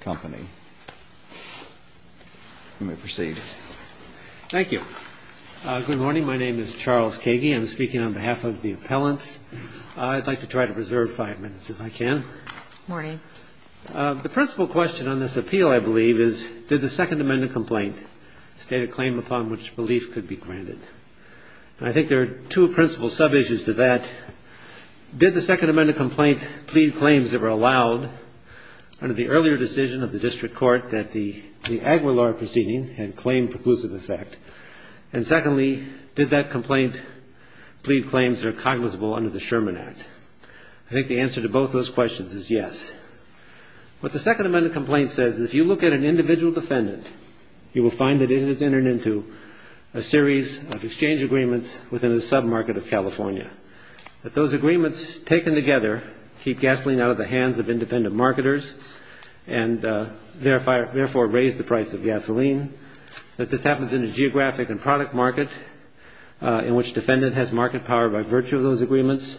Company. You may proceed. Thank you. Good morning. My name is Charles Kagey. I'm speaking on behalf of the appellants. I'd like to try to preserve five minutes, if I can. Morning. The principal question on this appeal, I believe, is did the Second Amendment It did. It did. It did. It did. It did. It did. It did. It did. It did. It did. It did. It did. It did. It did. It did. It did. It did. And I think there are two principal sub-issues to that. Did the Second Amendment complaint plead claims that were allowed under the earlier decision of the district court that the AGWA law proceeding had claimed preclusive affect? And, secondly, did that complaint plead claims that are cognizant under the Sherman Act? I think the answer to both those questions is yes. What the Second Amendment complaint says is if you look at an individual defendant, you will find that it has entered into a series of exchanges that have been made to the plaintiffs in the past. a sub-market of California, that those agreements taken together keep gasoline out of the hands of independent marketers and therefore raise the price of gasoline, that this happens in a geographic and product market in which defendant has market power by virtue of those agreements,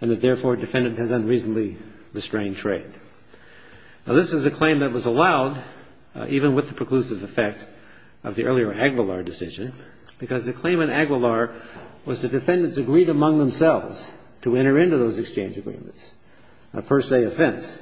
and that, therefore, defendant has unreasonably restrained trade. Now, this is a claim that was allowed even with the preclusive effect of the earlier AGWALAR decision, because the claim in AGWALAR was the defendants agreed among themselves to enter into those exchange agreements, a per se offense.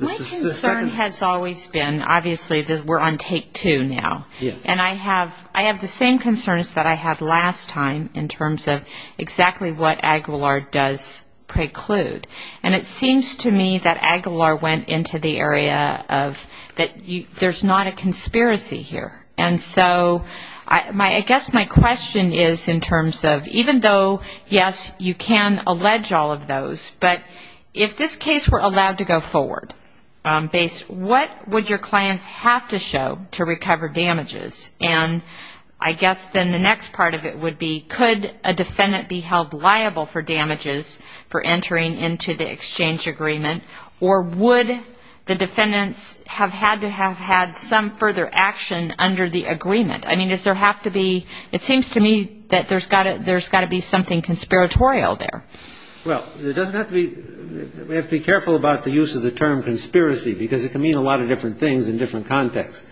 My concern has always been, obviously, we're on take two now, and I have the same concerns that I had last time in terms of exactly what AGWALAR does preclude. And it seems to me that AGWALAR went into the area of that there's not a conspiracy here. And so, I guess my question is in terms of, even though, yes, you can allege all of those, but if this case were allowed to go forward, what would your clients have to show to recover damages? And I guess then the next part of it would be, could a defendant be held liable for damages for entering into the exchange agreement, or would the defendants have had to have had some further action under the agreement? I mean, does there have to be, it seems to me that there's got to be something conspiratorial there. Well, there doesn't have to be, we have to be careful about the use of the term conspiracy, because it can mean a lot of different things in different contexts.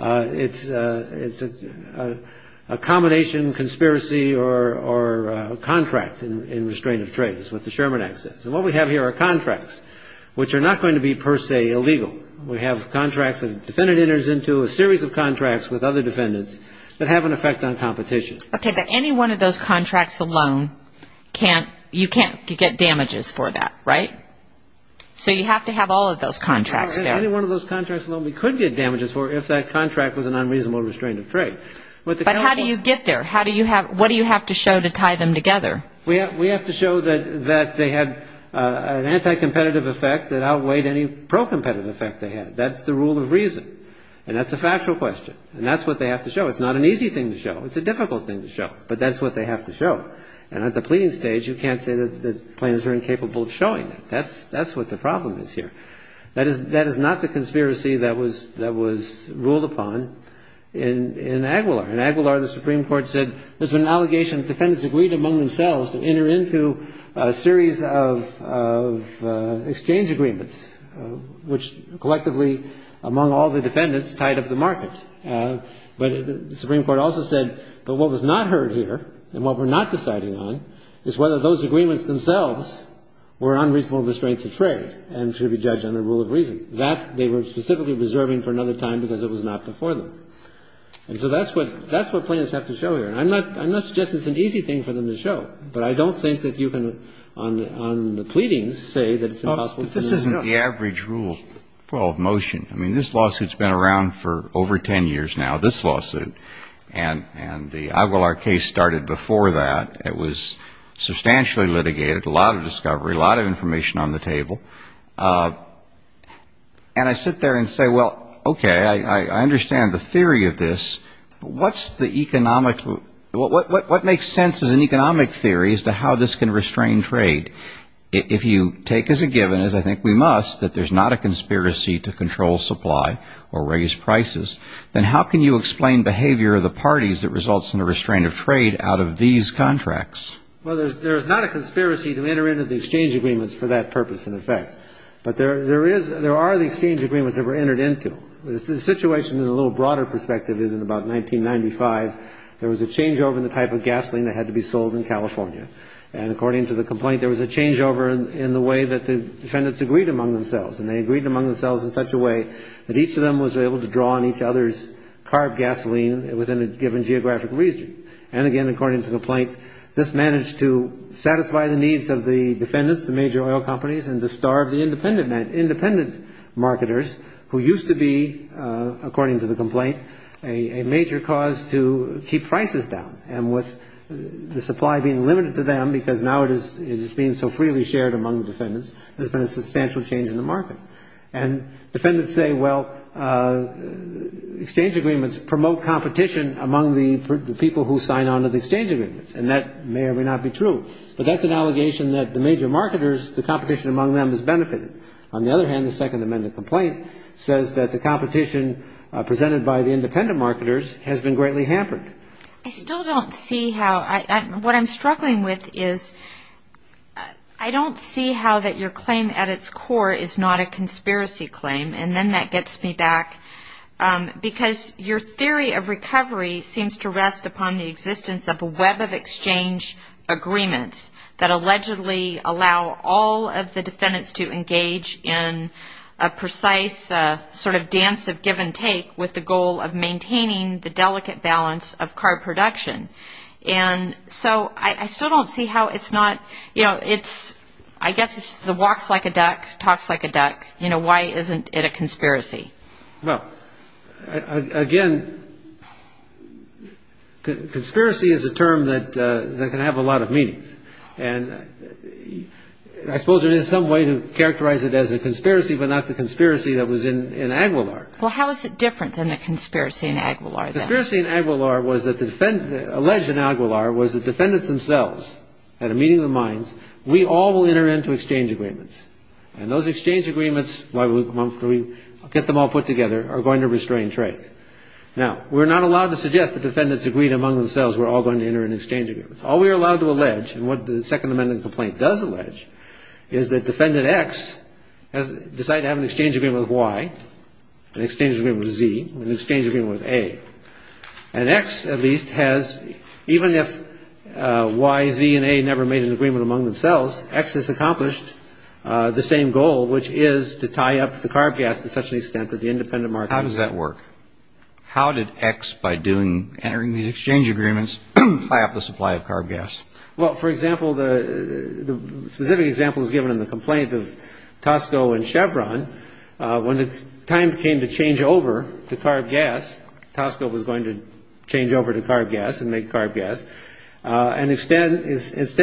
It's a combination conspiracy or contract in restraint of trade, is what the Sherman Act says. And what we have here are contracts, which are not going to be per se illegal. We have contracts that a defendant enters into, a series of contracts with other defendants that have an effect on competition. Okay, but any one of those contracts alone, you can't get damages for that, right? So you have to have all of those contracts there. Any one of those contracts alone, we could get damages for if that contract was an unreasonable restraint of trade. But how do you get there? What do you have to show to tie them together? We have to show that they had an anti-competitive effect that outweighed any pro-competitive effect they had. That's the rule of reason. And that's a factual question. And that's what they have to show. It's not an easy thing to show. It's a difficult thing to show. But that's what they have to show. And at the pleading stage, you can't say that plaintiffs are incapable of showing that. That's what the problem is here. That is not the conspiracy that was ruled upon in Aguilar. In Aguilar, the Supreme Court said there's been an allegation that defendants agreed among themselves to enter into a series of exchange agreements, which collectively, among all the defendants, tied up the market. But the Supreme Court also said that what was not heard here and what we're not deciding on is whether those agreements themselves were unreasonable restraints of trade and should be judged under rule of reason. That they were specifically reserving for another time because it was not before them. And so that's what plaintiffs have to show here. And I'm not suggesting it's an easy thing for them to show. But I don't think that you can, on the pleadings, say that it's impossible to know. This isn't the average rule of motion. I mean, this lawsuit's been around for over 10 years now, this lawsuit. And the Aguilar case started before that. It was substantially litigated, a lot of discovery, a lot of information on the table. And I sit there and say, well, okay, I understand the theory of this. What's the economic, what makes sense as an economic theory as to how this can restrain trade? If you take as a given, as I think we must, that there's not a conspiracy to control supply or raise prices, then how can you explain behavior of the parties that results in a restraint of trade out of these contracts? Well, there's not a conspiracy to enter into the exchange agreements for that purpose, in effect. But there are the exchange agreements that were entered into. The situation, in a little broader perspective, is in about 1995, there was a changeover in the type of gasoline that had to be sold in California. And according to the complaint, there was a changeover in the way that the defendants agreed among themselves. And they agreed among themselves in such a way that each of them was able to draw on each other's carb gasoline within a given geographic region. And again, according to the complaint, this managed to satisfy the needs of the defendants, the major oil companies, and to starve the independent marketers, who used to be, according to the complaint, a major cause to keep prices down. And with the supply being limited to them, because now it is being so freely shared among the defendants, there's been a substantial change in the market. And defendants say, well, exchange agreements promote competition among the people who sign on to the exchange agreements. And that may or may not be true. But that's an allegation that the major marketers, the competition among them has benefited. On the other hand, the Second Amendment complaint says that the competition presented by the independent marketers has been greatly hampered. I still don't see how, what I'm struggling with is, I don't see how that your claim at its core is not a conspiracy claim. And then that gets me back. Because your theory of recovery seems to rest upon the existence of a web of exchange agreements that allegedly allow all of the defendants to engage in a precise sort of dance of give and take with the goal of maintaining the delicate balance of car production. And so I still don't see how it's not, you know, it's I guess it's the walks like a duck, talks like a duck. Well, again, conspiracy is a term that can have a lot of meanings. And I suppose there is some way to characterize it as a conspiracy, but not the conspiracy that was in Aguilar. Well, how is it different than the conspiracy in Aguilar? The conspiracy in Aguilar was that the defendants, alleged in Aguilar, was the defendants themselves had a meeting of the minds. We all will enter into exchange agreements. And those exchange agreements, why we get them all put together, are going to restrain trade. Now, we're not allowed to suggest the defendants agreed among themselves. We're all going to enter an exchange agreement. All we are allowed to allege and what the Second Amendment complaint does allege is that Defendant X has decided to have an exchange agreement with Y, an exchange agreement with Z, an exchange agreement with A, and X at least has, even if Y, Z and A never made an agreement, has accomplished the same goal, which is to tie up the carb gas to such an extent that the independent market. How does that work? How did X, by entering these exchange agreements, tie up the supply of carb gas? Well, for example, the specific example is given in the complaint of Tosco and Chevron. When the time came to change over to carb gas, Tosco was going to change over to carb gas and make carb gas. And instead,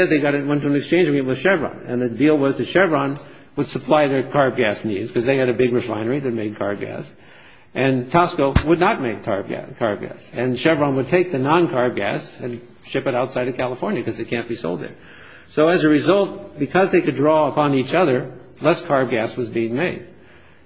they got into an exchange agreement with Chevron and the deal was that Chevron would supply their carb gas needs because they had a big refinery that made carb gas and Tosco would not make carb gas. And Chevron would take the non-carb gas and ship it outside of California because it can't be sold there. So as a result, because they could draw upon each other, less carb gas was being made.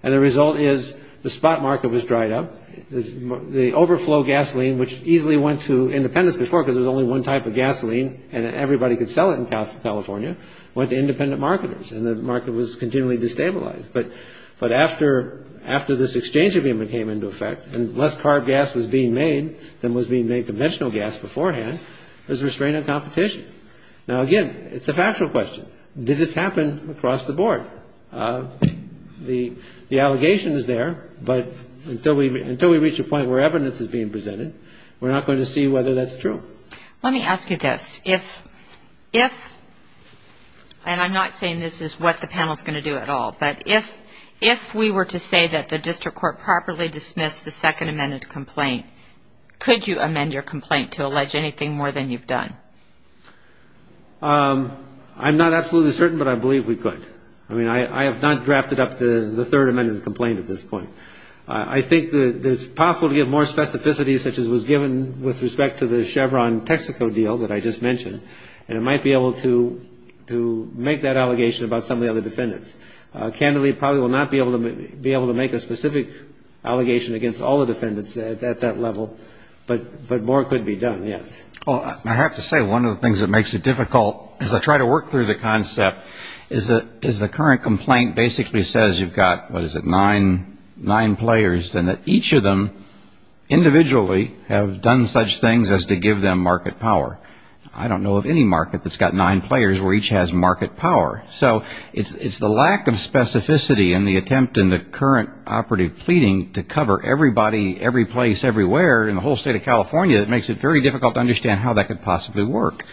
And the result is the spot market was dried up, the overflow gasoline, which easily went to independence before because there's only one type of gasoline and everybody could sell it in California, went to independent marketers and the market was continually destabilized. But after this exchange agreement came into effect and less carb gas was being made than was being made conventional gas beforehand, there's a restraint on competition. Now, again, it's a factual question. Did this happen across the board? The allegation is there, but until we reach a point where evidence is being presented, we're not going to see whether that's true. Let me ask you this, if and I'm not saying this is what the panel is going to do at all, but if if we were to say that the district court properly dismissed the second amended complaint, could you amend your complaint to allege anything more than you've done? I'm not absolutely certain, but I believe we could. I mean, I have not drafted up the third amendment complaint at this point. I think that it's possible to get more specificity such as was given with respect to the Chevron Texaco deal that I just mentioned, and it might be able to to make that allegation about some of the other defendants. Candidly, probably will not be able to be able to make a specific allegation against all the defendants at that level. But but more could be done. Yes. Well, I have to say one of the things that makes it difficult is I try to work through the concept is that is the current complaint basically says you've got what is it nine nine players and that each of them individually have done such things as to give them market power. I don't know of any market that's got nine players where each has market power. So it's the lack of specificity and the attempt in the current operative pleading to cover everybody, every place, everywhere in the whole state of California that makes it very difficult to understand how that could possibly work.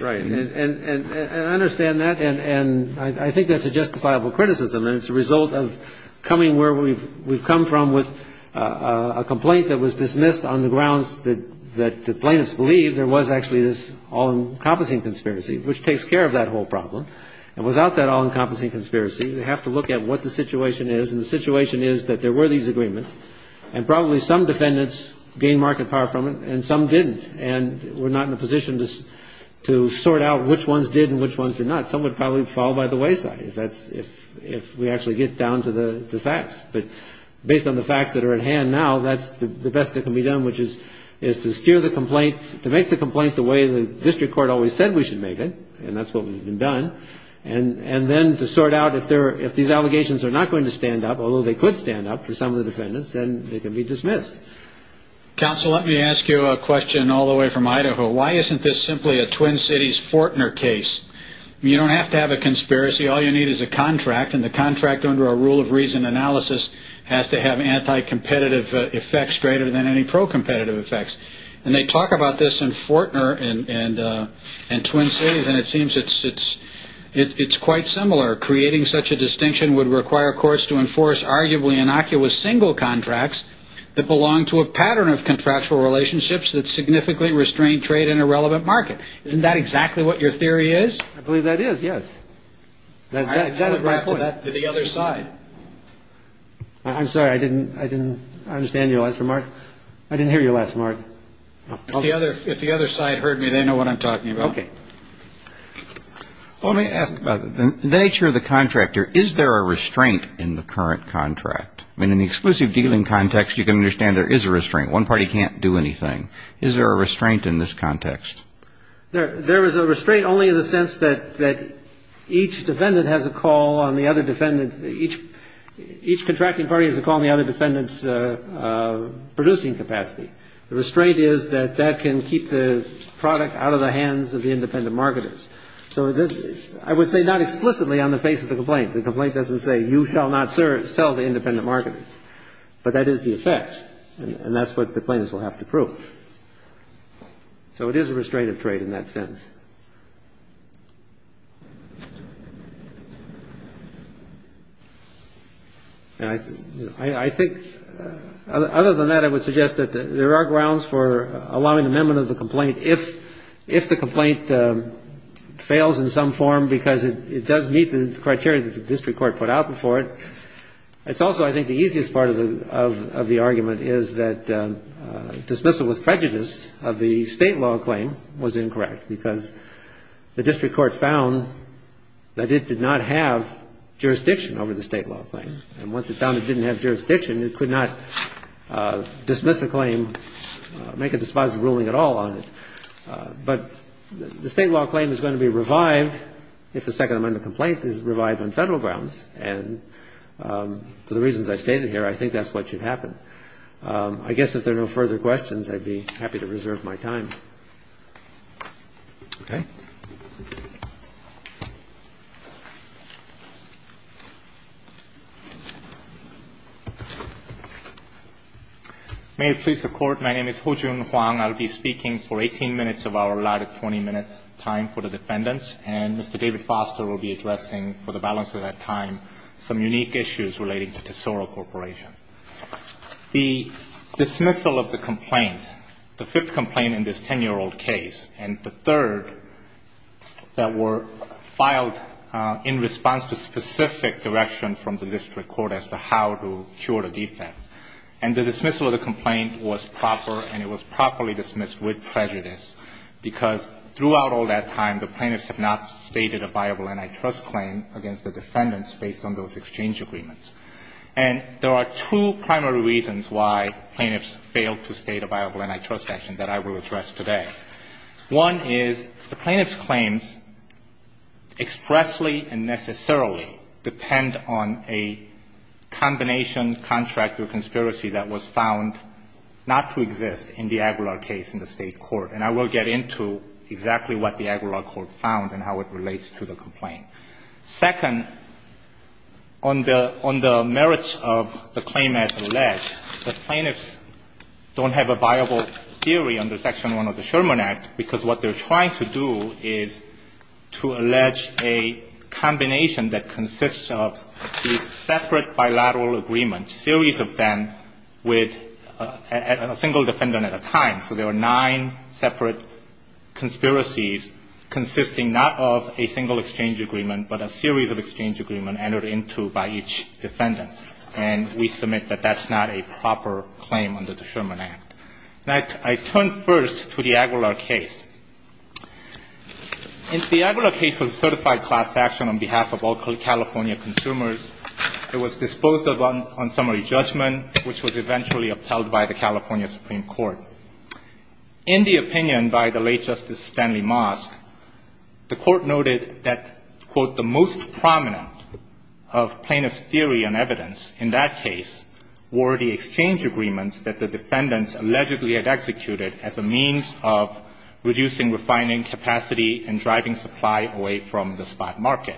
Right. And I understand that. And I think that's a justifiable criticism. And it's a result of coming where we've we've come from with a complaint that was dismissed on the grounds that that the plaintiffs believe there was actually this all encompassing conspiracy, which takes care of that whole problem. And without that all encompassing conspiracy, we have to look at what the situation is. And the situation is that there were these agreements and probably some defendants gain market power from it and some didn't. And we're not in a position to to sort out which ones did and which ones did not. Some would probably fall by the wayside if that's if if we actually get down to the facts. But based on the facts that are at hand now, that's the best that can be done, which is is to steer the complaint, to make the complaint the way the district court always said we should make it. And that's what we've been done. And and then to sort out if there if these allegations are not going to stand up, although they could stand up for some of the defendants, then they can be dismissed. Counsel, let me ask you a question all the way from Idaho. Why isn't this simply a Twin Cities Fortner case? You don't have to have a conspiracy. All you need is a contract. And the contract under a rule of reason analysis has to have anti-competitive effects greater than any pro-competitive effects. And they talk about this in Fortner and and and Twin Cities. And it seems it's it's it's quite similar. Creating such a distinction would require courts to enforce arguably innocuous single contracts that belong to a pattern of contractual relationships that significantly restrain trade in a relevant market. Isn't that exactly what your theory is? I believe that is. Yes. That is my point. The other side. I'm sorry, I didn't I didn't understand your last remark. I didn't hear your last remark. The other if the other side heard me, they know what I'm talking about. OK. Let me ask about the nature of the contractor. Is there a restraint in the current contract? I mean, in the exclusive dealing context, you can understand there is a restraint. One party can't do anything. Is there a restraint in this context? There is a restraint only in the sense that that each defendant has a call on the other defendants. Each each contracting party is a call on the other defendants producing capacity. The restraint is that that can keep the product out of the hands of the independent marketers. So I would say not explicitly on the face of the complaint. The complaint doesn't say you shall not sell the independent marketers. But that is the effect. And that's what the plaintiffs will have to prove. So it is a restraint of trade in that sense. I think other than that, I would suggest that there are grounds for allowing amendment of the complaint if if the complaint fails in some form, because it does meet the criteria that the district court put out before it. It's also I think the easiest part of the of the argument is that dismissal with prejudice of the state law claim was incorrect because the district court found that it did not have jurisdiction over the state law claim. And once it found it didn't have jurisdiction, it could not dismiss the claim, make a dispositive ruling at all on it. But the state law claim is going to be revived if the Second Amendment complaint is revived on federal grounds. And for the reasons I stated here, I think that's what should happen. I guess if there are no further questions, I'd be happy to reserve my time. Okay. May it please the Court. My name is Hojun Huang. I'll be speaking for 18 minutes of our allotted 20-minute time for the defendants. And Mr. David Foster will be addressing, for the balance of that time, some unique issues relating to Tesoro Corporation. The dismissal of the complaint, the fifth complaint in this 10-year-old case, and the third that were filed in response to specific direction from the district court as to how to cure the defense. And the dismissal of the complaint was proper, and it was properly dismissed with prejudice, because throughout all that time, the plaintiffs have not stated a viable antitrust claim against the defendants based on those exchange agreements. And there are two primary reasons why plaintiffs failed to state a viable antitrust action that I will address today. One is the plaintiff's claims expressly and necessarily depend on a combination, contract, or conspiracy that was found not to exist in the Aguilar case in the state court. And I will get into exactly what the Aguilar court found and how it relates to the complaint. Second, on the merits of the claim as alleged, the plaintiffs don't have a viable theory under Section 1 of the Sherman Act, because what they're trying to do is to allege a combination that consists of these separate bilateral agreements, a series of them with a single defendant at a time. So there are nine separate conspiracies consisting not of a single exchange agreement, but a series of exchange agreement entered into by each defendant. And we submit that that's not a proper claim under the Sherman Act. Now, I turn first to the Aguilar case. The Aguilar case was a certified class action on behalf of all California consumers. It was disposed of on summary judgment, which was eventually upheld by the In the opinion by the late Justice Stanley Mosk, the court noted that, quote, the most prominent of plaintiff's theory and evidence in that case were the exchange agreements that the defendants allegedly had executed as a means of reducing, refining capacity, and driving supply away from the spot market.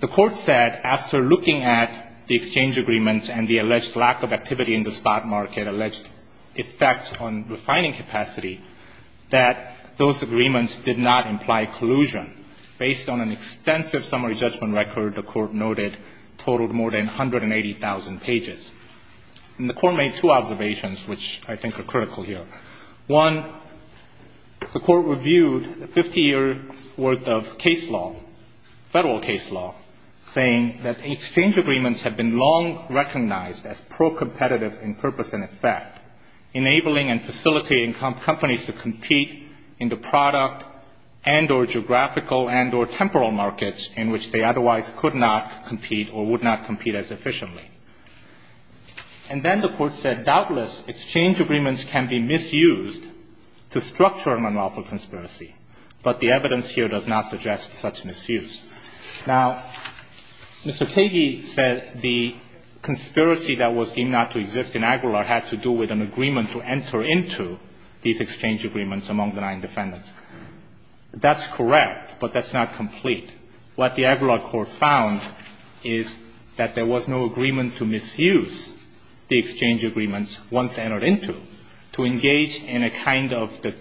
The court said, after looking at the exchange agreements and the alleged lack of refining capacity, that those agreements did not imply collusion. Based on an extensive summary judgment record, the court noted, totaled more than 180,000 pages. And the court made two observations, which I think are critical here. One, the court reviewed a 50-year worth of case law, federal case law, saying that the exchange agreements have been long recognized as pro-competitive in purpose and effect, enabling and facilitating companies to compete in the product and or geographical and or temporal markets in which they otherwise could not compete or would not compete as efficiently. And then the court said, doubtless, exchange agreements can be misused to structure a monophobe conspiracy. But the evidence here does not suggest such misuse. Now, Mr. Kage said the conspiracy that was deemed not to exist in Aguilar had to do with an agreement to enter into these exchange agreements among the nine defendants. That's correct, but that's not complete. What the Aguilar court found is that there was no agreement to misuse the exchange agreements once entered into to engage in a kind of the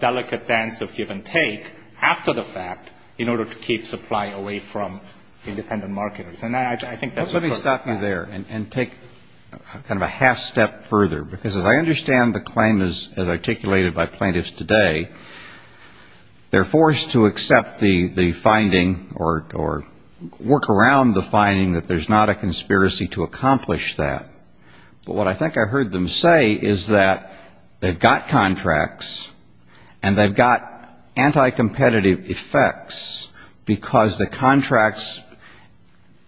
delicate dance of give and buy away from independent marketers. And I think that's- Let me stop you there and take kind of a half step further. Because as I understand the claim as articulated by plaintiffs today, they're forced to accept the finding or work around the finding that there's not a conspiracy to accomplish that. But what I think I heard them say is that they've got contracts and they've got anti-competitive effects because the contracts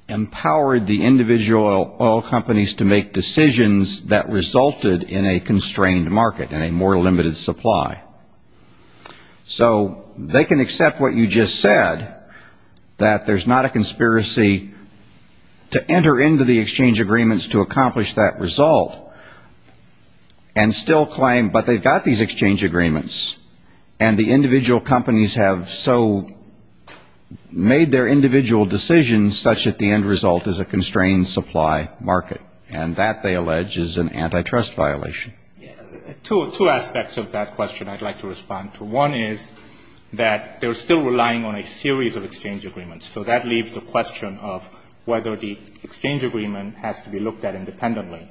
empowered the individual oil companies to make decisions that resulted in a constrained market and a more limited supply. So they can accept what you just said, that there's not a conspiracy to enter into the exchange agreements to accomplish that result. And still claim, but they've got these exchange agreements and the individual companies have so made their individual decisions such that the end result is a constrained supply market. And that, they allege, is an antitrust violation. Two aspects of that question I'd like to respond to. One is that they're still relying on a series of exchange agreements. So that leaves the question of whether the exchange agreement has to be looked at independently.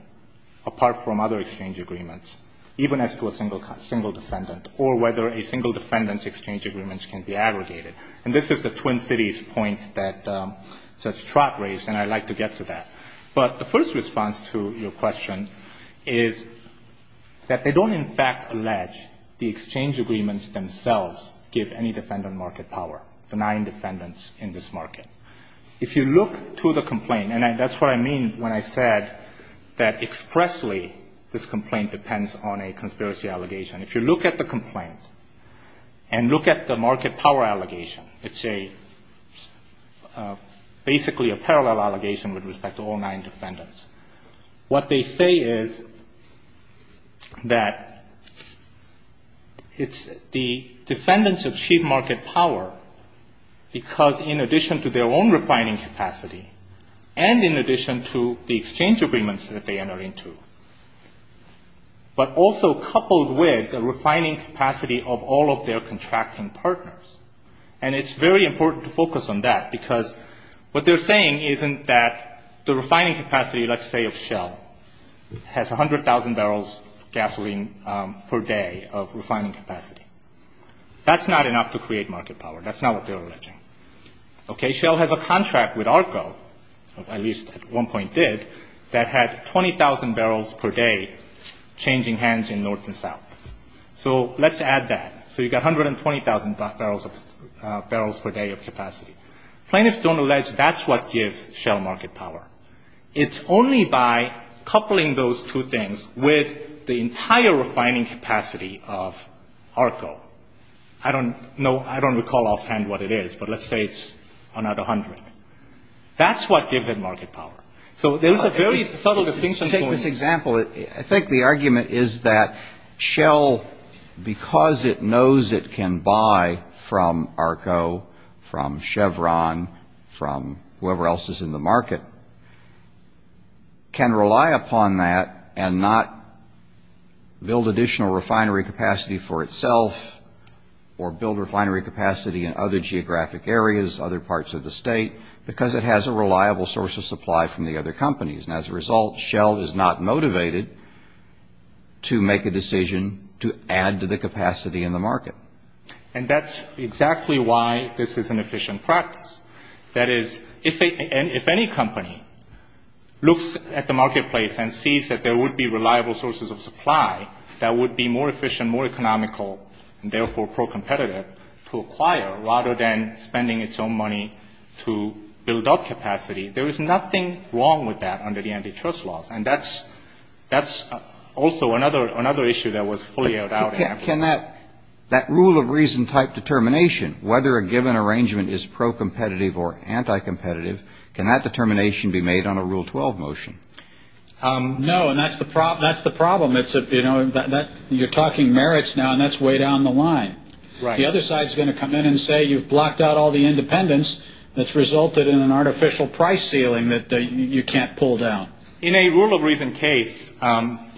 Apart from other exchange agreements, even as to a single defendant. Or whether a single defendant's exchange agreements can be aggregated. And this is the Twin Cities point that Judge Trott raised and I'd like to get to that. But the first response to your question is that they don't in fact allege the exchange agreements themselves give any defendant market power, benign defendants in this market. If you look to the complaint, and that's what I mean when I said that expressly this complaint depends on a conspiracy allegation. If you look at the complaint and look at the market power allegation, it's a basically a parallel allegation with respect to all nine defendants. What they say is that it's the defendants of chief market power. Because in addition to their own refining capacity, and in addition to the exchange agreements that they enter into. But also coupled with the refining capacity of all of their contracting partners. And it's very important to focus on that. Because what they're saying isn't that the refining capacity, let's say of Shell, has 100,000 barrels of gasoline per day of refining capacity. That's not enough to create market power. That's not what they're alleging. Okay, Shell has a contract with ARCO, at least at one point did, that had 20,000 barrels per day changing hands in north and south. So let's add that. So you've got 120,000 barrels per day of capacity. Plaintiffs don't allege that's what gives Shell market power. It's only by coupling those two things with the entire refining capacity of ARCO. I don't know, I don't recall offhand what it is, but let's say it's another 100. That's what gives it market power. So there's a very subtle distinction. Take this example, I think the argument is that Shell, because it knows it can buy from ARCO, from Chevron, from whoever else is in the market, can rely upon that and not build additional refinery capacity for itself or build refinery capacity in other geographic areas, other parts of the state, because it has a reliable source of supply from the other companies. And as a result, Shell is not motivated to make a decision to add to the capacity in the market. And that's exactly why this is an efficient practice. That is, if any company looks at the marketplace and sees that there would be reliable sources of supply that would be more efficient, more economical, and therefore pro-competitive to acquire, rather than spending its own money to build up capacity, there is nothing wrong with that under the antitrust laws. And that's also another issue that was fully aired out. Can that rule of reason type determination, whether a given arrangement is pro-competitive or anti-competitive, can that determination be made on a Rule 12 motion? No, and that's the problem. You're talking merits now, and that's way down the line. The other side is going to come in and say you've blocked out all the independence that's resulted in an artificial price ceiling that you can't pull down. In a rule of reason case,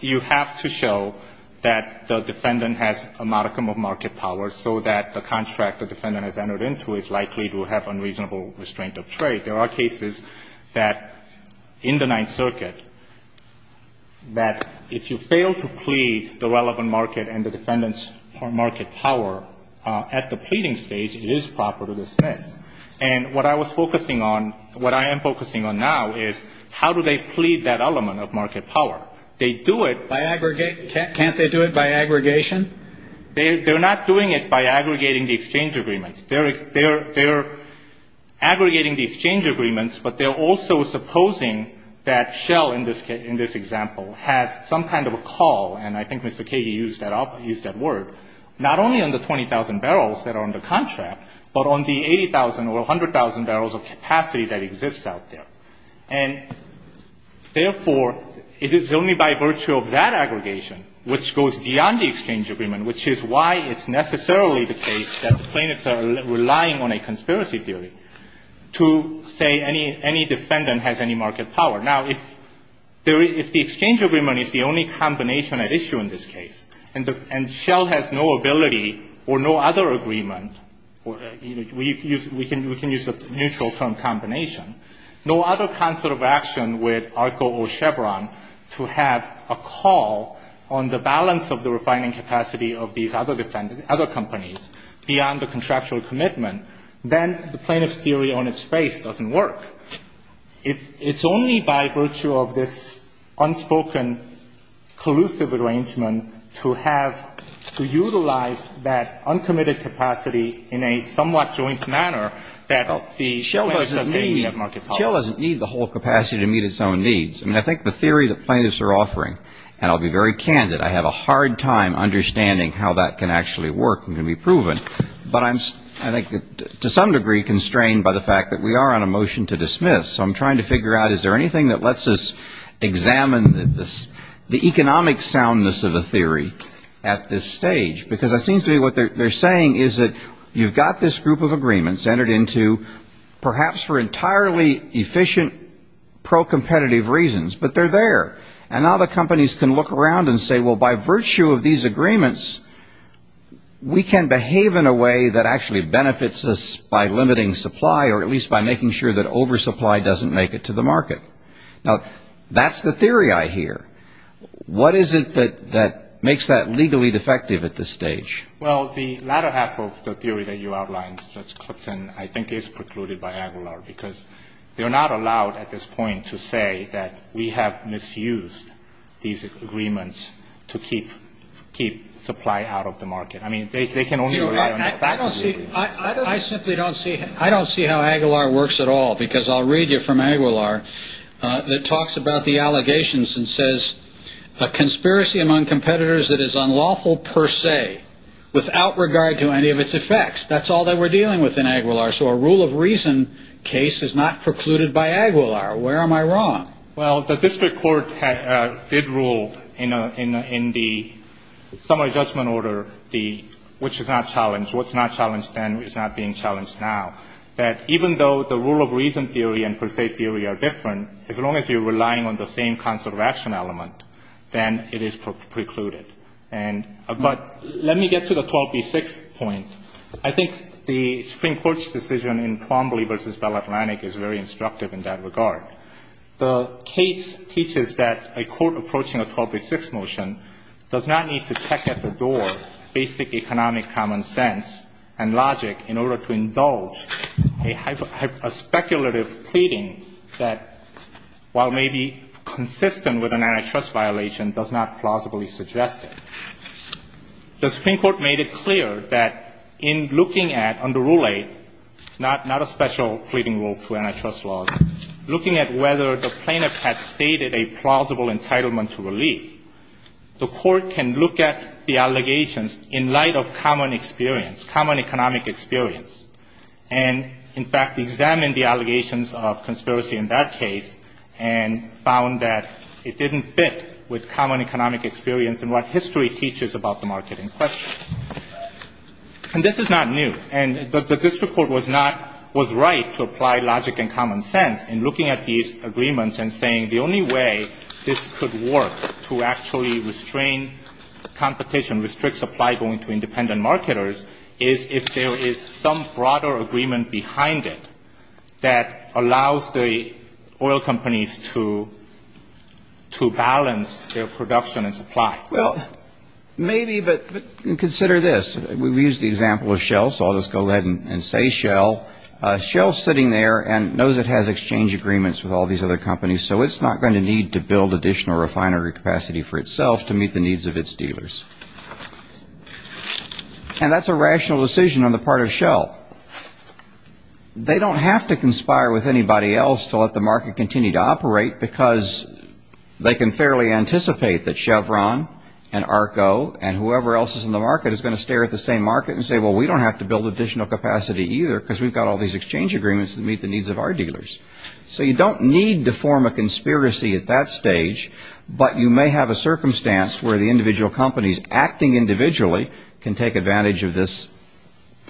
you have to show that the defendant has a modicum of market power so that the contract the defendant has entered into is likely to have unreasonable restraint of trade. There are cases that, in the Ninth Circuit, that if you fail to plead the relevant market and the defendant's market power at the pleading stage, it is proper to dismiss. And what I was focusing on, what I am focusing on now, is how do they plead that element of market power? They do it by aggregate. Can't they do it by aggregation? They're not doing it by aggregating the exchange agreements. They're aggregating the exchange agreements, but they're also supposing that Shell, in this case, in this example, has some kind of a call, and I think Mr. Kagey used that word, not only on the 20,000 barrels that are under contract, but on the 80,000 or 100,000 barrels of capacity that exists out there. And therefore, it is only by virtue of that aggregation which goes beyond the exchange agreement, which is why it's necessarily the case that the plaintiffs are relying on a conspiracy theory to say any defendant has any market power. Now, if the exchange agreement is the only combination at issue in this case, and Shell has no ability or no other agreement, we can use the neutral term combination, no other concert of action with ARCO or Chevron to have a call on the balance of the refining capacity of these other companies beyond the contractual commitment, then the plaintiff's theory on its face doesn't work. It's only by virtue of this unspoken collusive arrangement to have to utilize that uncommitted capacity in a somewhat joint manner that the plaintiffs are saying they have market power. Well, Shell doesn't need the whole capacity to meet its own needs. I mean, I think the theory the plaintiffs are offering, and I'll be very candid, I have a hard time understanding how that can actually work and can be proven. But I'm, I think, to some degree constrained by the fact that we are on a motion to dismiss. So I'm trying to figure out, is there anything that lets us examine the economic soundness of a theory at this stage? Because it seems to me what they're saying is that you've got this group of agreements entered into perhaps for entirely efficient, pro-competitive reasons, but they're there. And now the companies can look around and say, well, by virtue of these agreements, we can behave in a way that actually benefits us by limiting supply, or at least by making sure that oversupply doesn't make it to the market. Now, that's the theory I hear. What is it that makes that legally defective at this stage? Well, the latter half of the theory that you outlined, Judge Clipton, I think is precluded by Aguilar, because they're not allowed at this point to say that we have misused these agreements to keep supply out of the market. I mean, they can only rely on the fact of the agreement. I don't see how Aguilar works at all, because I'll read you from Aguilar that talks about the allegations and says, a conspiracy among competitors that is unlawful per se, without regard to any of its effects. That's all that we're dealing with in Aguilar. So a rule of reason case is not precluded by Aguilar. Where am I wrong? Well, the district court did rule in the summary judgment order, which is not challenged. What's not challenged then is not being challenged now. That even though the rule of reason theory and per se theory are different, as long as you're relying on the same concept of action element, then it is precluded. But let me get to the 12B6 point. I think the Supreme Court's decision in Twombly v. Bell Atlantic is very instructive in that regard. The case teaches that a court approaching a 12B6 motion does not need to check at the door basic economic common sense and logic in order to indulge a speculative pleading that while maybe consistent with an antitrust violation, does not plausibly suggest it. The Supreme Court made it clear that in looking at under Rule 8, not a special pleading rule to antitrust laws, looking at whether the plaintiff has stated a plausible entitlement to relief, the court can look at the allegations in light of common experience, common economic experience, and, in fact, examine the allegations of conspiracy in that case and found that it didn't fit with common economic experience and what history teaches about the market in question. And this is not new. And the district court was right to apply logic and common sense in looking at these agreements and saying the only way this could work to actually restrain competition, restrict supply going to independent marketers, is if there is some broader agreement behind it that allows the oil companies to balance their production and supply. Well, maybe, but consider this. We've used the example of Shell, so I'll just go ahead and say Shell. Shell's sitting there and knows it has exchange agreements with all these other companies, so it's not going to need to build additional refinery capacity for itself to meet the needs of its dealers. And that's a rational decision on the part of Shell. They don't have to conspire with anybody else to let the market continue to operate because they can fairly anticipate that Chevron and ARCO and whoever else is in the market is going to stare at the same market and say, well, we don't have to build additional capacity either because we've got all these exchange agreements that meet the needs of our dealers. So you don't need to form a conspiracy at that stage, but you may have a circumstance where the individual companies acting individually can take advantage of this,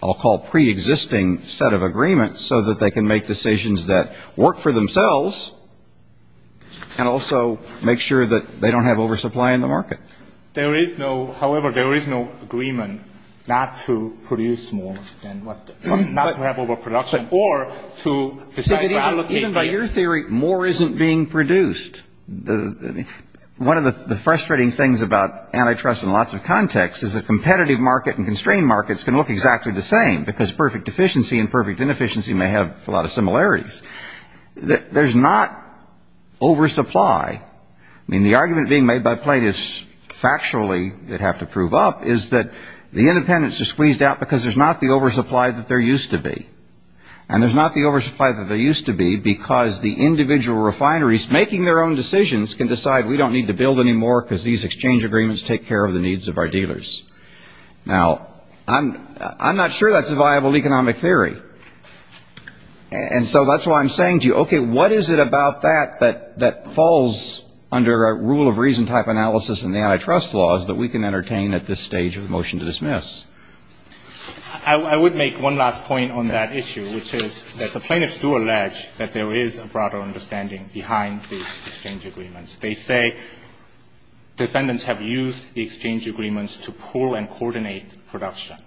I'll call pre-existing set of agreements, so that they can make decisions that work for themselves and also make sure that they don't have oversupply in the market. There is no, however, there is no agreement not to produce more than what, not to have overproduction, or to decide to allocate more. Even by your theory, more isn't being produced. One of the frustrating things about antitrust in lots of contexts is the competitive market and constrained markets can look exactly the same because perfect efficiency and perfect inefficiency may have a lot of similarities. There's not oversupply. I mean, the argument being made by plaintiffs factually that have to prove up is that the independents are squeezed out because there's not the oversupply that there used to be. And there's not the oversupply that there used to be because the individual refineries making their own decisions can decide we don't need to build any more because these exchange agreements take care of the needs of our dealers. Now, I'm not sure that's a viable economic theory. And so that's why I'm saying to you, okay, what is it about that that falls under a rule of reason type analysis in the antitrust laws that we can entertain at this stage of motion to dismiss? I would make one last point on that issue, which is that the plaintiffs do allege that there is a broader understanding behind these exchange agreements. They say defendants have used the exchange agreements to pool and coordinate production,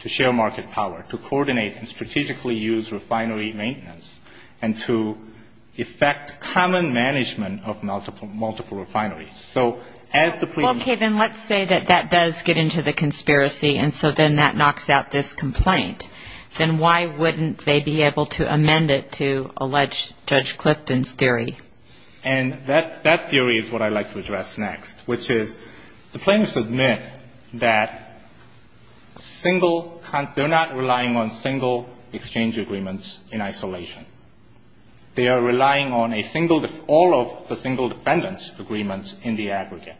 to share market power, to coordinate and strategically use refinery maintenance, and to effect common management of multiple refineries. So as the plaintiffs do. Okay. Then let's say that that does get into the conspiracy. And so then that knocks out this complaint. Then why wouldn't they be able to amend it to allege Judge Clifton's theory? And that theory is what I'd like to address next, which is the plaintiffs admit that single they're not relying on single exchange agreements in isolation. They are relying on a single, all of the single defendants' agreements in the aggregate.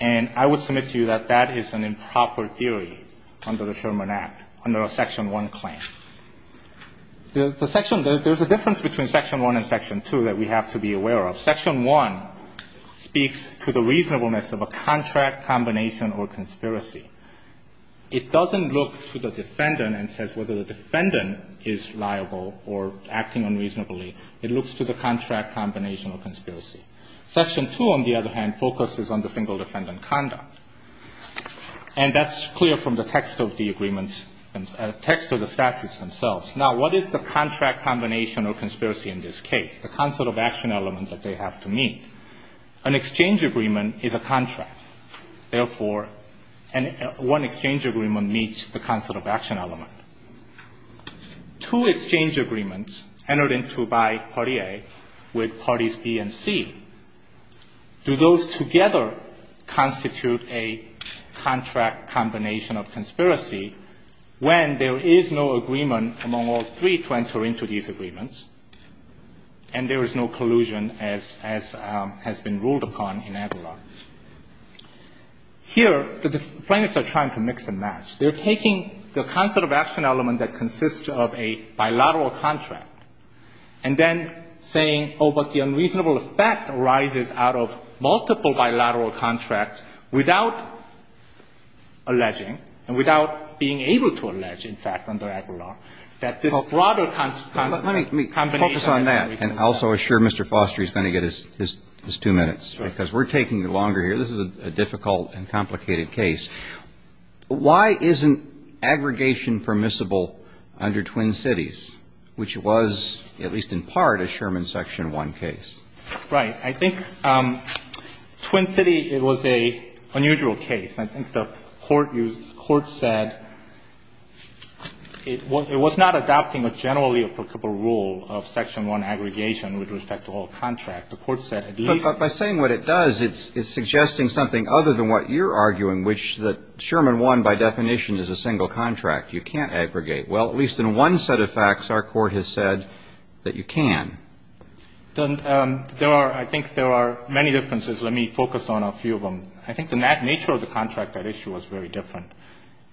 And I would submit to you that that is an improper theory under the Sherman Act, under a Section 1 claim. The Section – there's a difference between Section 1 and Section 2 that we have to be aware of. Section 1 speaks to the reasonableness of a contract, combination, or conspiracy. It doesn't look to the defendant and says whether the defendant is liable or acting unreasonably. It looks to the contract, combination, or conspiracy. Section 2, on the other hand, focuses on the single defendant conduct. And that's clear from the text of the agreement – text of the statutes themselves. Now, what is the contract, combination, or conspiracy in this case, the concept of action element that they have to meet? An exchange agreement is a contract. Therefore, one exchange agreement meets the concept of action element. Two exchange agreements entered into by Party A with Parties B and C, do those together constitute a contract, combination, or conspiracy when there is no agreement among all three to enter into these agreements and there is no collusion as has been ruled upon in Aguilar? Here, the defendants are trying to mix and match. They're taking the concept of action element that consists of a bilateral contract and then saying, oh, but the unreasonable effect arises out of multiple bilateral contracts without alleging, and without being able to allege, in fact, under Aguilar, that this broader combination has to be considered. Let me focus on that and also assure Mr. Foster he's going to get his two minutes because we're taking longer here. This is a difficult and complicated case. Why isn't aggregation permissible under Twin Cities, which was, at least in part, a Sherman Section 1 case? Right. I think Twin City, it was an unusual case. I think the court said it was not adopting a generally applicable rule of Section 1 aggregation with respect to all contract. The court said at least by saying what it does, it's suggesting something other than what you're arguing, which that Sherman 1, by definition, is a single contract. You can't aggregate. Well, at least in one set of facts, our court has said that you can. There are, I think there are many differences. Let me focus on a few of them. I think the nature of the contract, that issue, was very different.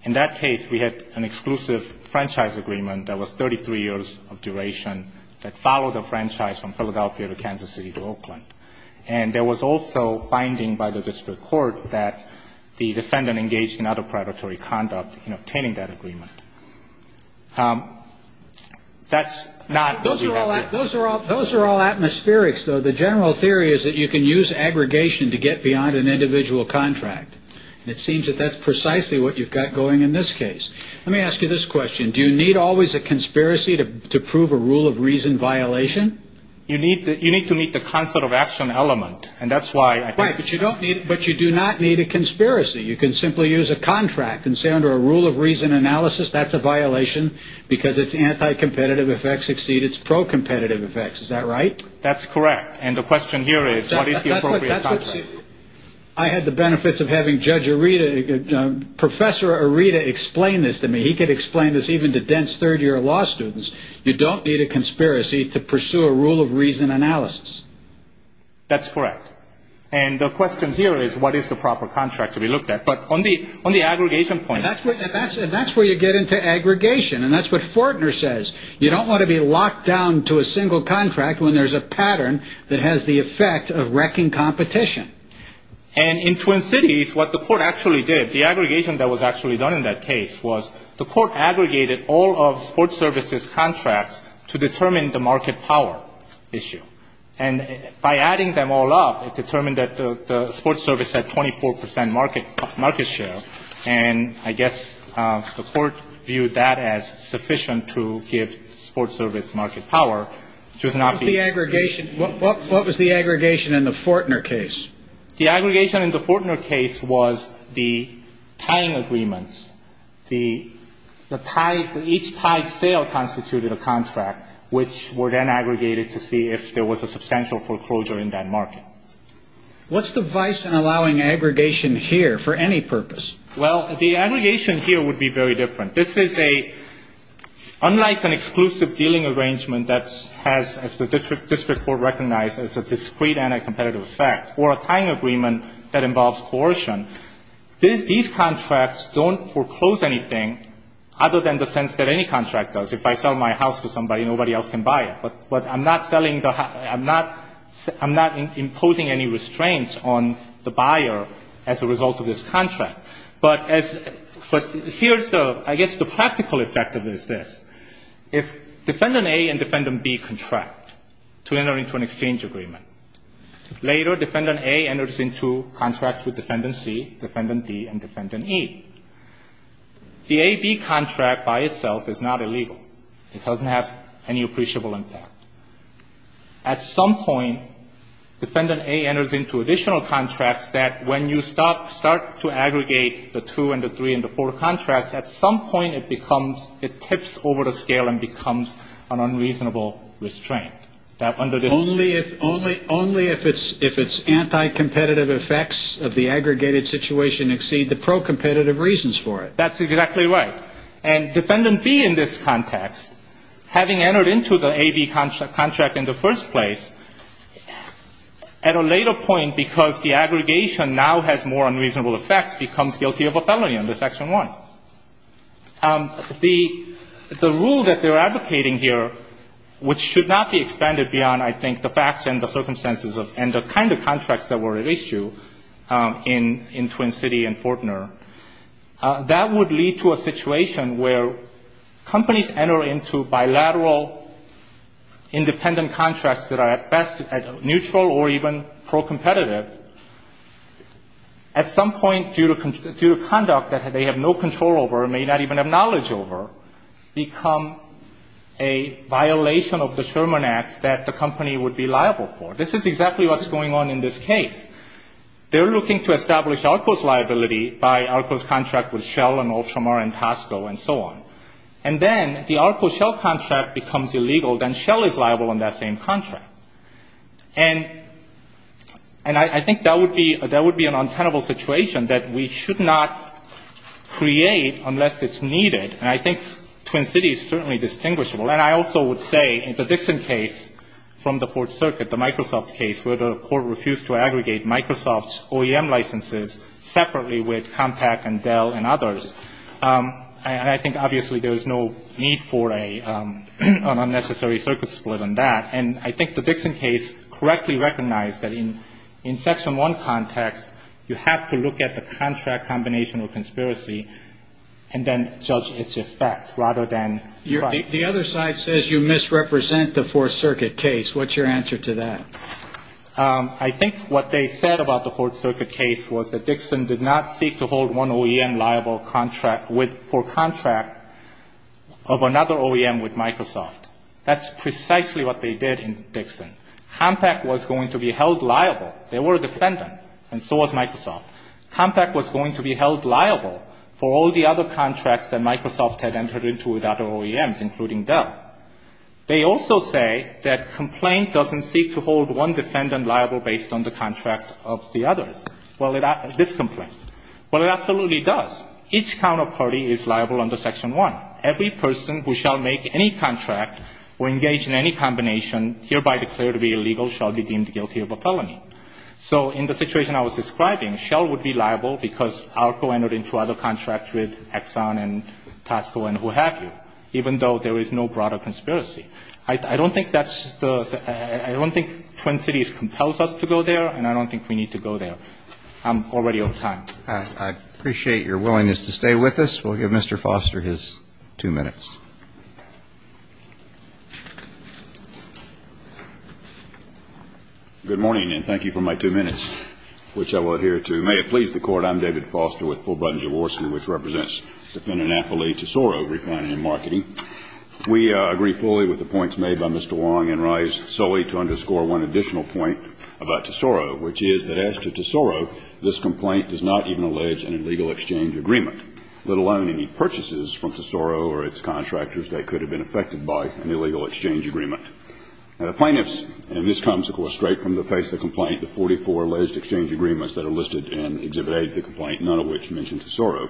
In that case, we had an exclusive franchise agreement that was 33 years of duration that followed the franchise from Philadelphia to Kansas City to Oakland. And there was also finding by the district court that the defendant engaged in other predatory conduct in obtaining that agreement. That's not what we have here. Those are all atmospherics, though. The general theory is that you can use aggregation to get beyond an individual contract. It seems that that's precisely what you've got going in this case. Let me ask you this question. Do you need always a conspiracy to prove a rule of reason violation? You need to meet the concept of action element. And that's why I think. Right, but you don't need, but you do not need a conspiracy. You can simply use a contract and say under a rule of reason analysis, that's a violation because it's anti-competitive effects exceed its pro-competitive effects. Is that right? That's correct. And the question here is, what is the appropriate contract? I had the benefits of having Judge Arita, Professor Arita explain this to me. He could explain this even to dense third year law students. You don't need a conspiracy to pursue a rule of reason analysis. That's correct. And the question here is, what is the proper contract to be looked at? But on the, on the aggregation point. That's where, that's, that's where you get into aggregation. And that's what Fortner says. You don't want to be locked down to a single contract when there's a pattern that has the effect of wrecking competition. And in Twin Cities, what the court actually did, the aggregation that was actually done in that case was, the court aggregated all of Sports Service's contracts to determine the market power issue. And by adding them all up, it determined that the, the Sports Service had 24% market, market share. And I guess the court viewed that as sufficient to give Sports Service market power. It was not the aggregation. What, what, what was the aggregation in the Fortner case? The aggregation in the Fortner case was the tying agreements. The, the tie, each tied sale constituted a contract, which were then aggregated to see if there was a substantial foreclosure in that market. What's the vice in allowing aggregation here for any purpose? Well, the aggregation here would be very different. This is a, unlike an exclusive dealing arrangement that's, has, as the district, district court recognized as a discrete anti-competitive effect, or a tying agreement that involves coercion. This, these contracts don't foreclose anything other than the sense that any contract does. If I sell my house to somebody, nobody else can buy it. But, but I'm not selling the, I'm not, I'm not imposing any restraint on the buyer as a result of this contract. But as, but here's the, I guess the practical effect of this is this. If defendant A and defendant B contract to enter into an exchange agreement. Later, defendant A enters into contracts with defendant C, defendant D, and defendant E. The AB contract by itself is not illegal. It doesn't have any appreciable impact. At some point, defendant A enters into additional contracts that when you stop, start to aggregate the two and the three and the four contracts, at some point it becomes, it tips over the scale and becomes an unreasonable restraint. That under this- Only if, only, only if it's, if it's anti-competitive effects of the aggregated situation exceed the pro-competitive reasons for it. That's exactly right. And defendant B in this context, having entered into the AB contra, contract in the first place, at a later point because the aggregation now has more unreasonable effects, becomes guilty of a felony under section one. The, the rule that they're advocating here, which should not be expanded beyond, I think, the facts and the circumstances of, and the kind of contracts that were at issue in, in Twin City and Fortner, that would lead to a situation where companies enter into bilateral independent contracts that are at best at neutral or even pro-competitive. At some point, due to, due to conduct that they have no control over, may not even have knowledge over, become a violation of the Sherman Act that the company would be liable for. This is exactly what's going on in this case. They're looking to establish ARCO's liability by ARCO's contract with Shell and Ultramar and Costco and so on. And then, if the ARCO-Shell contract becomes illegal, then Shell is liable on that same contract. And, and I, I think that would be, that would be an untenable situation, that we should not create unless it's needed. And I think Twin City is certainly distinguishable. And I also would say, in the Dixon case from the Fourth Circuit, the Microsoft case, where the court refused to aggregate Microsoft's OEM licenses separately with Compaq and Dell and others, I, I think obviously there is no need for a, an unnecessary circuit split on that. And I think the Dixon case correctly recognized that in, in section one context, you have to look at the contract combination of conspiracy and then judge its effect rather than. You're, the other side says you misrepresent the Fourth Circuit case. What's your answer to that? I think what they said about the Fourth Circuit case was that Dixon did not seek to hold one OEM liable contract with, for contract of another OEM with Microsoft. That's precisely what they did in Dixon. Compaq was going to be held liable. They were a defendant, and so was Microsoft. Compaq was going to be held liable for all the other contracts that Microsoft had entered into with other OEMs, including Dell. They also say that complaint doesn't seek to hold one defendant liable based on the contract of the others. Well, it, this complaint. Well, it absolutely does. Each counterparty is liable under section one. Every person who shall make any contract or engage in any combination, and hereby declare to be illegal, shall be deemed guilty of a felony. So in the situation I was describing, Shell would be liable because Arco entered into other contracts with Exxon and Tosco and who have you, even though there is no broader conspiracy. I don't think that's the, I don't think Twin Cities compels us to go there, and I don't think we need to go there. I'm already out of time. I appreciate your willingness to stay with us. We'll give Mr. Foster his two minutes. Good morning, and thank you for my two minutes, which I will adhere to. May it please the court, I'm David Foster with Fulbright & Jaworski, which represents defendant Napoli Tesoro Refinery and Marketing. We agree fully with the points made by Mr. Wong and rise solely to underscore one additional point about Tesoro, which is that as to Tesoro, this complaint does not even allege an illegal exchange agreement, let alone any purchases from Tesoro or its contractors that could have been affected by an illegal exchange agreement. Now the plaintiffs, and this comes, of course, straight from the face of the complaint, the 44 alleged exchange agreements that are listed in Exhibit A of the complaint, none of which mention Tesoro.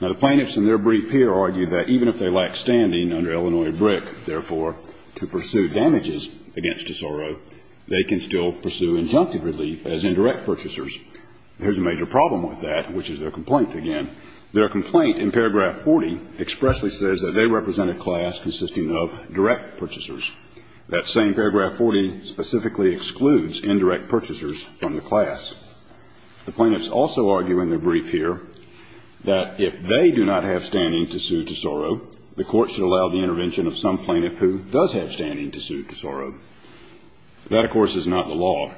Now the plaintiffs in their brief here argue that even if they lack standing under Illinois BRIC, therefore, to pursue damages against Tesoro, they can still pursue injunctive relief as indirect purchasers. There's a major problem with that, which is their complaint again. Their complaint in paragraph 40 expressly says that they represent a class consisting of direct purchasers. That same paragraph 40 specifically excludes indirect purchasers from the class. The plaintiffs also argue in their brief here that if they do not have standing to sue Tesoro, the court should allow the intervention of some plaintiff who does have standing to sue Tesoro. That, of course, is not the law.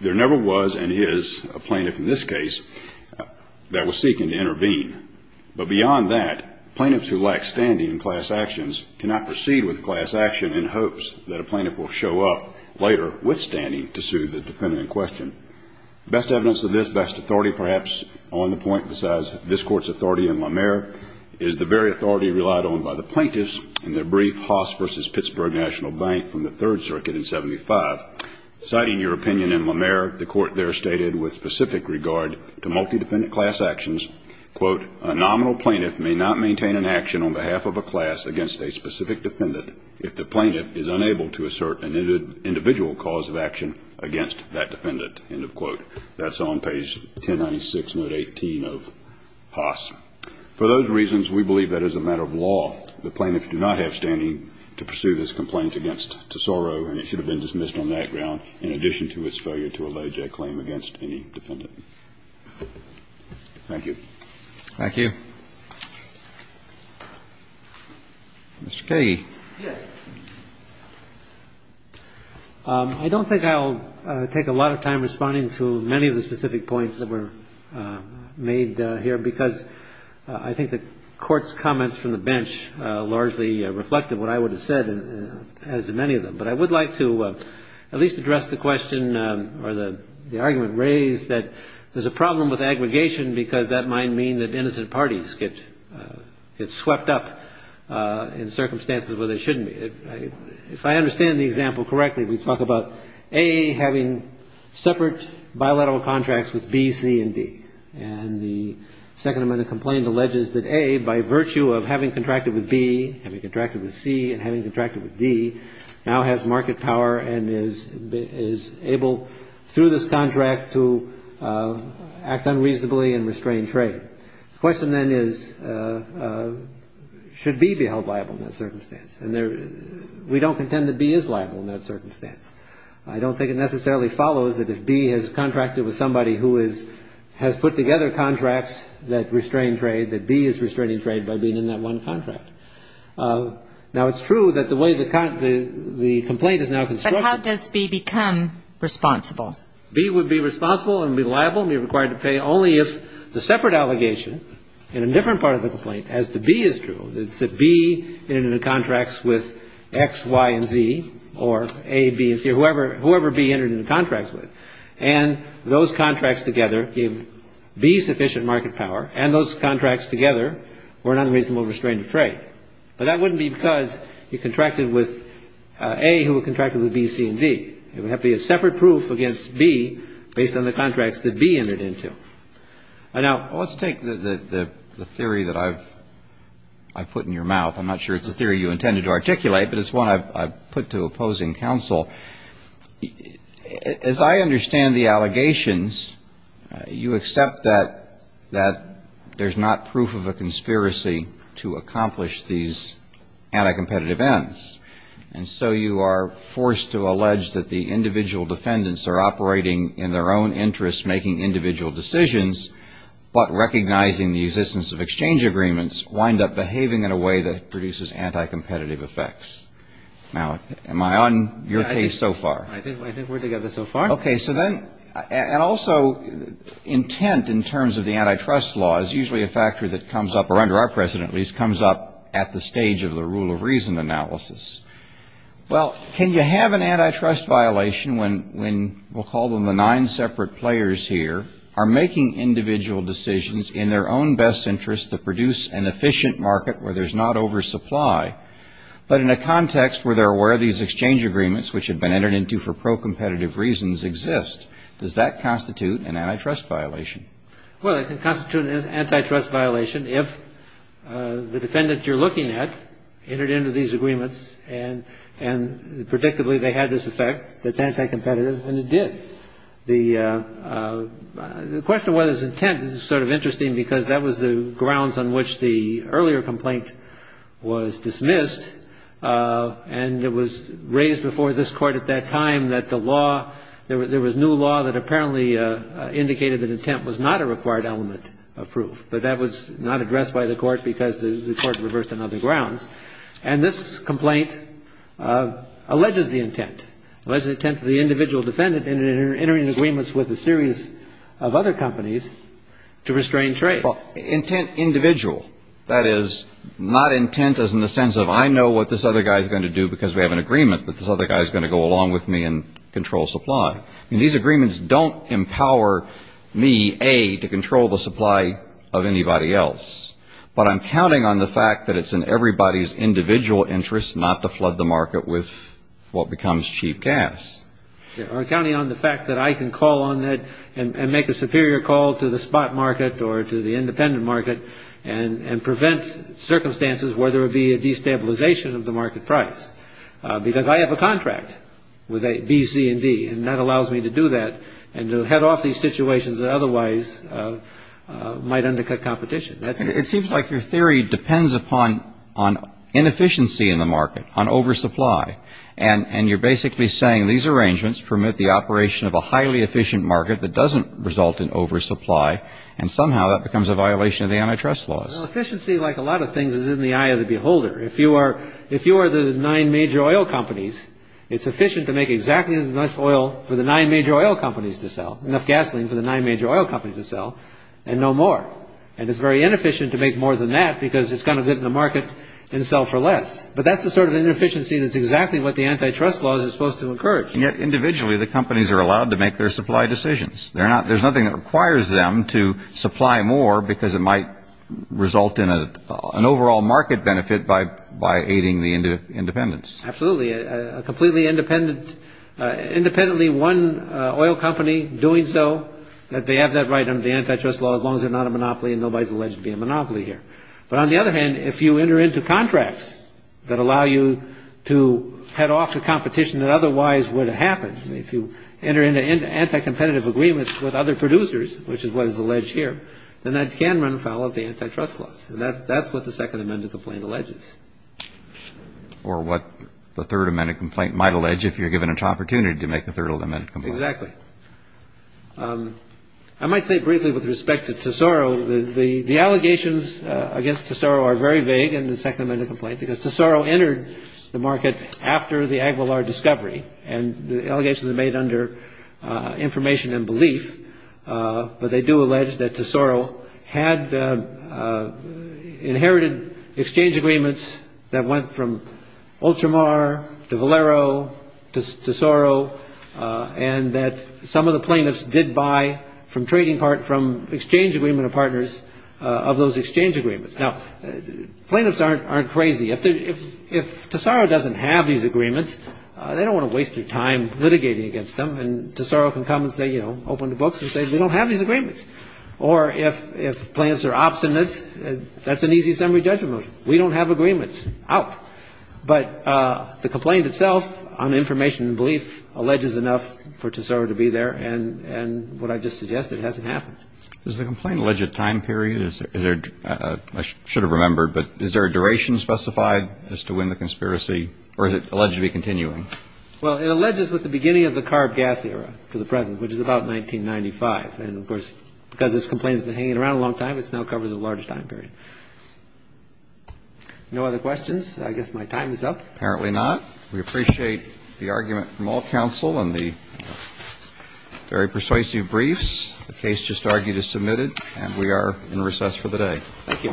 There never was and is a plaintiff in this case that was seeking to intervene. But beyond that, plaintiffs who lack standing in class actions cannot proceed with class action in hopes that a plaintiff will show up later with standing to sue the defendant in question. Best evidence of this, best authority perhaps on the point besides this court's authority in La Mer, is the very authority relied on by the plaintiffs in their brief Haas v. Pittsburgh National Bank from the Third Circuit in 75. Citing your opinion in La Mer, the court there stated with specific regard to multi-defendant class actions, quote, a nominal plaintiff may not maintain an action on behalf of a class against a specific defendant if the plaintiff is unable to assert an individual cause of action against that defendant, end of quote. That's on page 1096, note 18 of Haas. For those reasons, we believe that as a matter of law, the plaintiffs do not have standing to pursue this complaint against Tesoro and it should have been dismissed on that ground in addition to its failure to allege a claim against any defendant. Thank you. Roberts. Thank you. Mr. Kage. Yes. I don't think I'll take a lot of time responding to many of the specific points that were made here because I think the Court's comments from the bench largely reflected what I would have said as to many of them. But I would like to at least address the question or the argument raised that there's a problem with aggregation because that might mean that innocent parties get swept up in circumstances where they shouldn't be. If I understand the example correctly, we talk about A having separate bilateral contracts with B, C, and D. And the Second Amendment complaint alleges that A, by virtue of having contracted with B, having contracted with C, and having contracted with D, now has market power and is able, through this contract, to act unreasonably and restrain trade. The question then is, should B be held liable in that circumstance? And we don't contend that B is liable in that circumstance. I don't think it necessarily follows that if B has contracted with somebody who has put together contracts that restrain trade, that B is restraining trade by being in that one contract. Now, it's true that the way the complaint is now constructed — But how does B become responsible? B would be responsible and be liable and be required to pay only if the separate allegation in a different part of the complaint as to B is true, that B entered into contracts with X, Y, and Z, or A, B, and C, or whoever B entered into contracts with. And those contracts together gave B sufficient market power, and those contracts together were not reasonable to restrain trade. But that wouldn't be because he contracted with A who had contracted with B, C, and D. It would have to be a separate proof against B based on the contracts that B entered into. And now — Well, let's take the theory that I've put in your mouth. I'm not sure it's a theory you intended to articulate, but it's one I've put to opposing counsel. As I understand the allegations, you accept that there's not proof of a conspiracy to accomplish these anti-competitive ends, and so you are forced to allege that the individual defendants are operating in their own interests, making individual decisions, but recognizing the existence of exchange agreements, wind up behaving in a way that produces anti-competitive Now, am I on your case? I think we're together so far. Okay. So then — and also, intent in terms of the antitrust law is usually a factor that comes up, or under our precedent at least, comes up at the stage of the rule of reason analysis. Well, can you have an antitrust violation when — we'll call them the nine separate players here — are making individual decisions in their own best interests that produce an efficient market where there's not oversupply, but in a context where there were these exchange agreements which had been entered into for pro-competitive reasons exist? Does that constitute an antitrust violation? Well, it can constitute an antitrust violation if the defendant you're looking at entered into these agreements, and predictably they had this effect that's anti-competitive, and it did. The question of whether it's intent is sort of interesting because that was the grounds earlier complaint was dismissed, and it was raised before this Court at that time that the law — there was new law that apparently indicated that intent was not a required element of proof, but that was not addressed by the Court because the Court reversed it on other grounds. And this complaint alleges the intent, alleges the intent of the individual defendant in entering agreements with a series of other companies to restrain trade. Well, intent individual. That is, not intent as in the sense of I know what this other guy is going to do because we have an agreement that this other guy is going to go along with me and control supply. I mean, these agreements don't empower me, A, to control the supply of anybody else, but I'm counting on the fact that it's in everybody's individual interest not to flood the market with what becomes cheap gas. Or counting on the fact that I can call on it and make a superior call to the spot market or to the independent market and prevent circumstances where there would be a destabilization of the market price. Because I have a contract with B, C, and D, and that allows me to do that and to head off these situations that otherwise might undercut competition. That's it. It seems like your theory depends upon inefficiency in the market, on oversupply. And you're basically saying these arrangements permit the operation of a highly efficient market that doesn't result in oversupply, and somehow that becomes a violation of the antitrust laws. Efficiency, like a lot of things, is in the eye of the beholder. If you are the nine major oil companies, it's efficient to make exactly enough oil for the nine major oil companies to sell, enough gasoline for the nine major oil companies to sell, and no more. And it's very inefficient to make more than that because it's going to get in the market and sell for less. But that's the sort of inefficiency that's exactly what the antitrust laws are supposed to encourage. And yet, individually, the companies are allowed to make their supply decisions. There's nothing that requires them to supply more because it might result in an overall market benefit by aiding the independents. Absolutely. A completely independent, independently won oil company doing so, they have that right under the antitrust law as long as they're not a monopoly and nobody's alleged to be a monopoly here. But on the other hand, if you enter into contracts that allow you to head off to competition that otherwise would have happened, if you enter into anti-competitive agreements with other producers, which is what is alleged here, then that can run afoul of the antitrust laws. And that's what the Second Amendment complaint alleges. Or what the Third Amendment complaint might allege if you're given an opportunity to make the Third Amendment complaint. Exactly. I might say briefly with respect to Tesoro, the allegations against Tesoro are very vague in the Second Amendment complaint because Tesoro entered the market after the Aguilar discovery. And the allegations are made under information and belief. But they do allege that Tesoro had inherited exchange agreements that went from Ultramar to Valero to Tesoro and that some of the plaintiffs did buy from trading part from exchange agreement partners of those exchange agreements. Now, plaintiffs aren't crazy. If Tesoro doesn't have these agreements, they don't want to waste their time litigating against them. And Tesoro can come and say, you know, open the books and say, we don't have these agreements. Or if plaintiffs are obstinate, that's an easy summary judgment. We don't have agreements. Out. But the complaint itself on information and belief alleges enough for Tesoro to be there. And what I just suggested hasn't happened. Does the complaint allege a time period? I should have remembered. But is there a duration specified as to when the conspiracy or is it alleged to be continuing? Well, it alleges with the beginning of the carb gas era to the present, which is about 1995. And, of course, because this complaint has been hanging around a long time, it's now covered a large time period. No other questions? I guess my time is up. Apparently not. We appreciate the argument from all counsel and the very persuasive briefs. The case just argued is submitted. And we are in recess for the day. Thank you.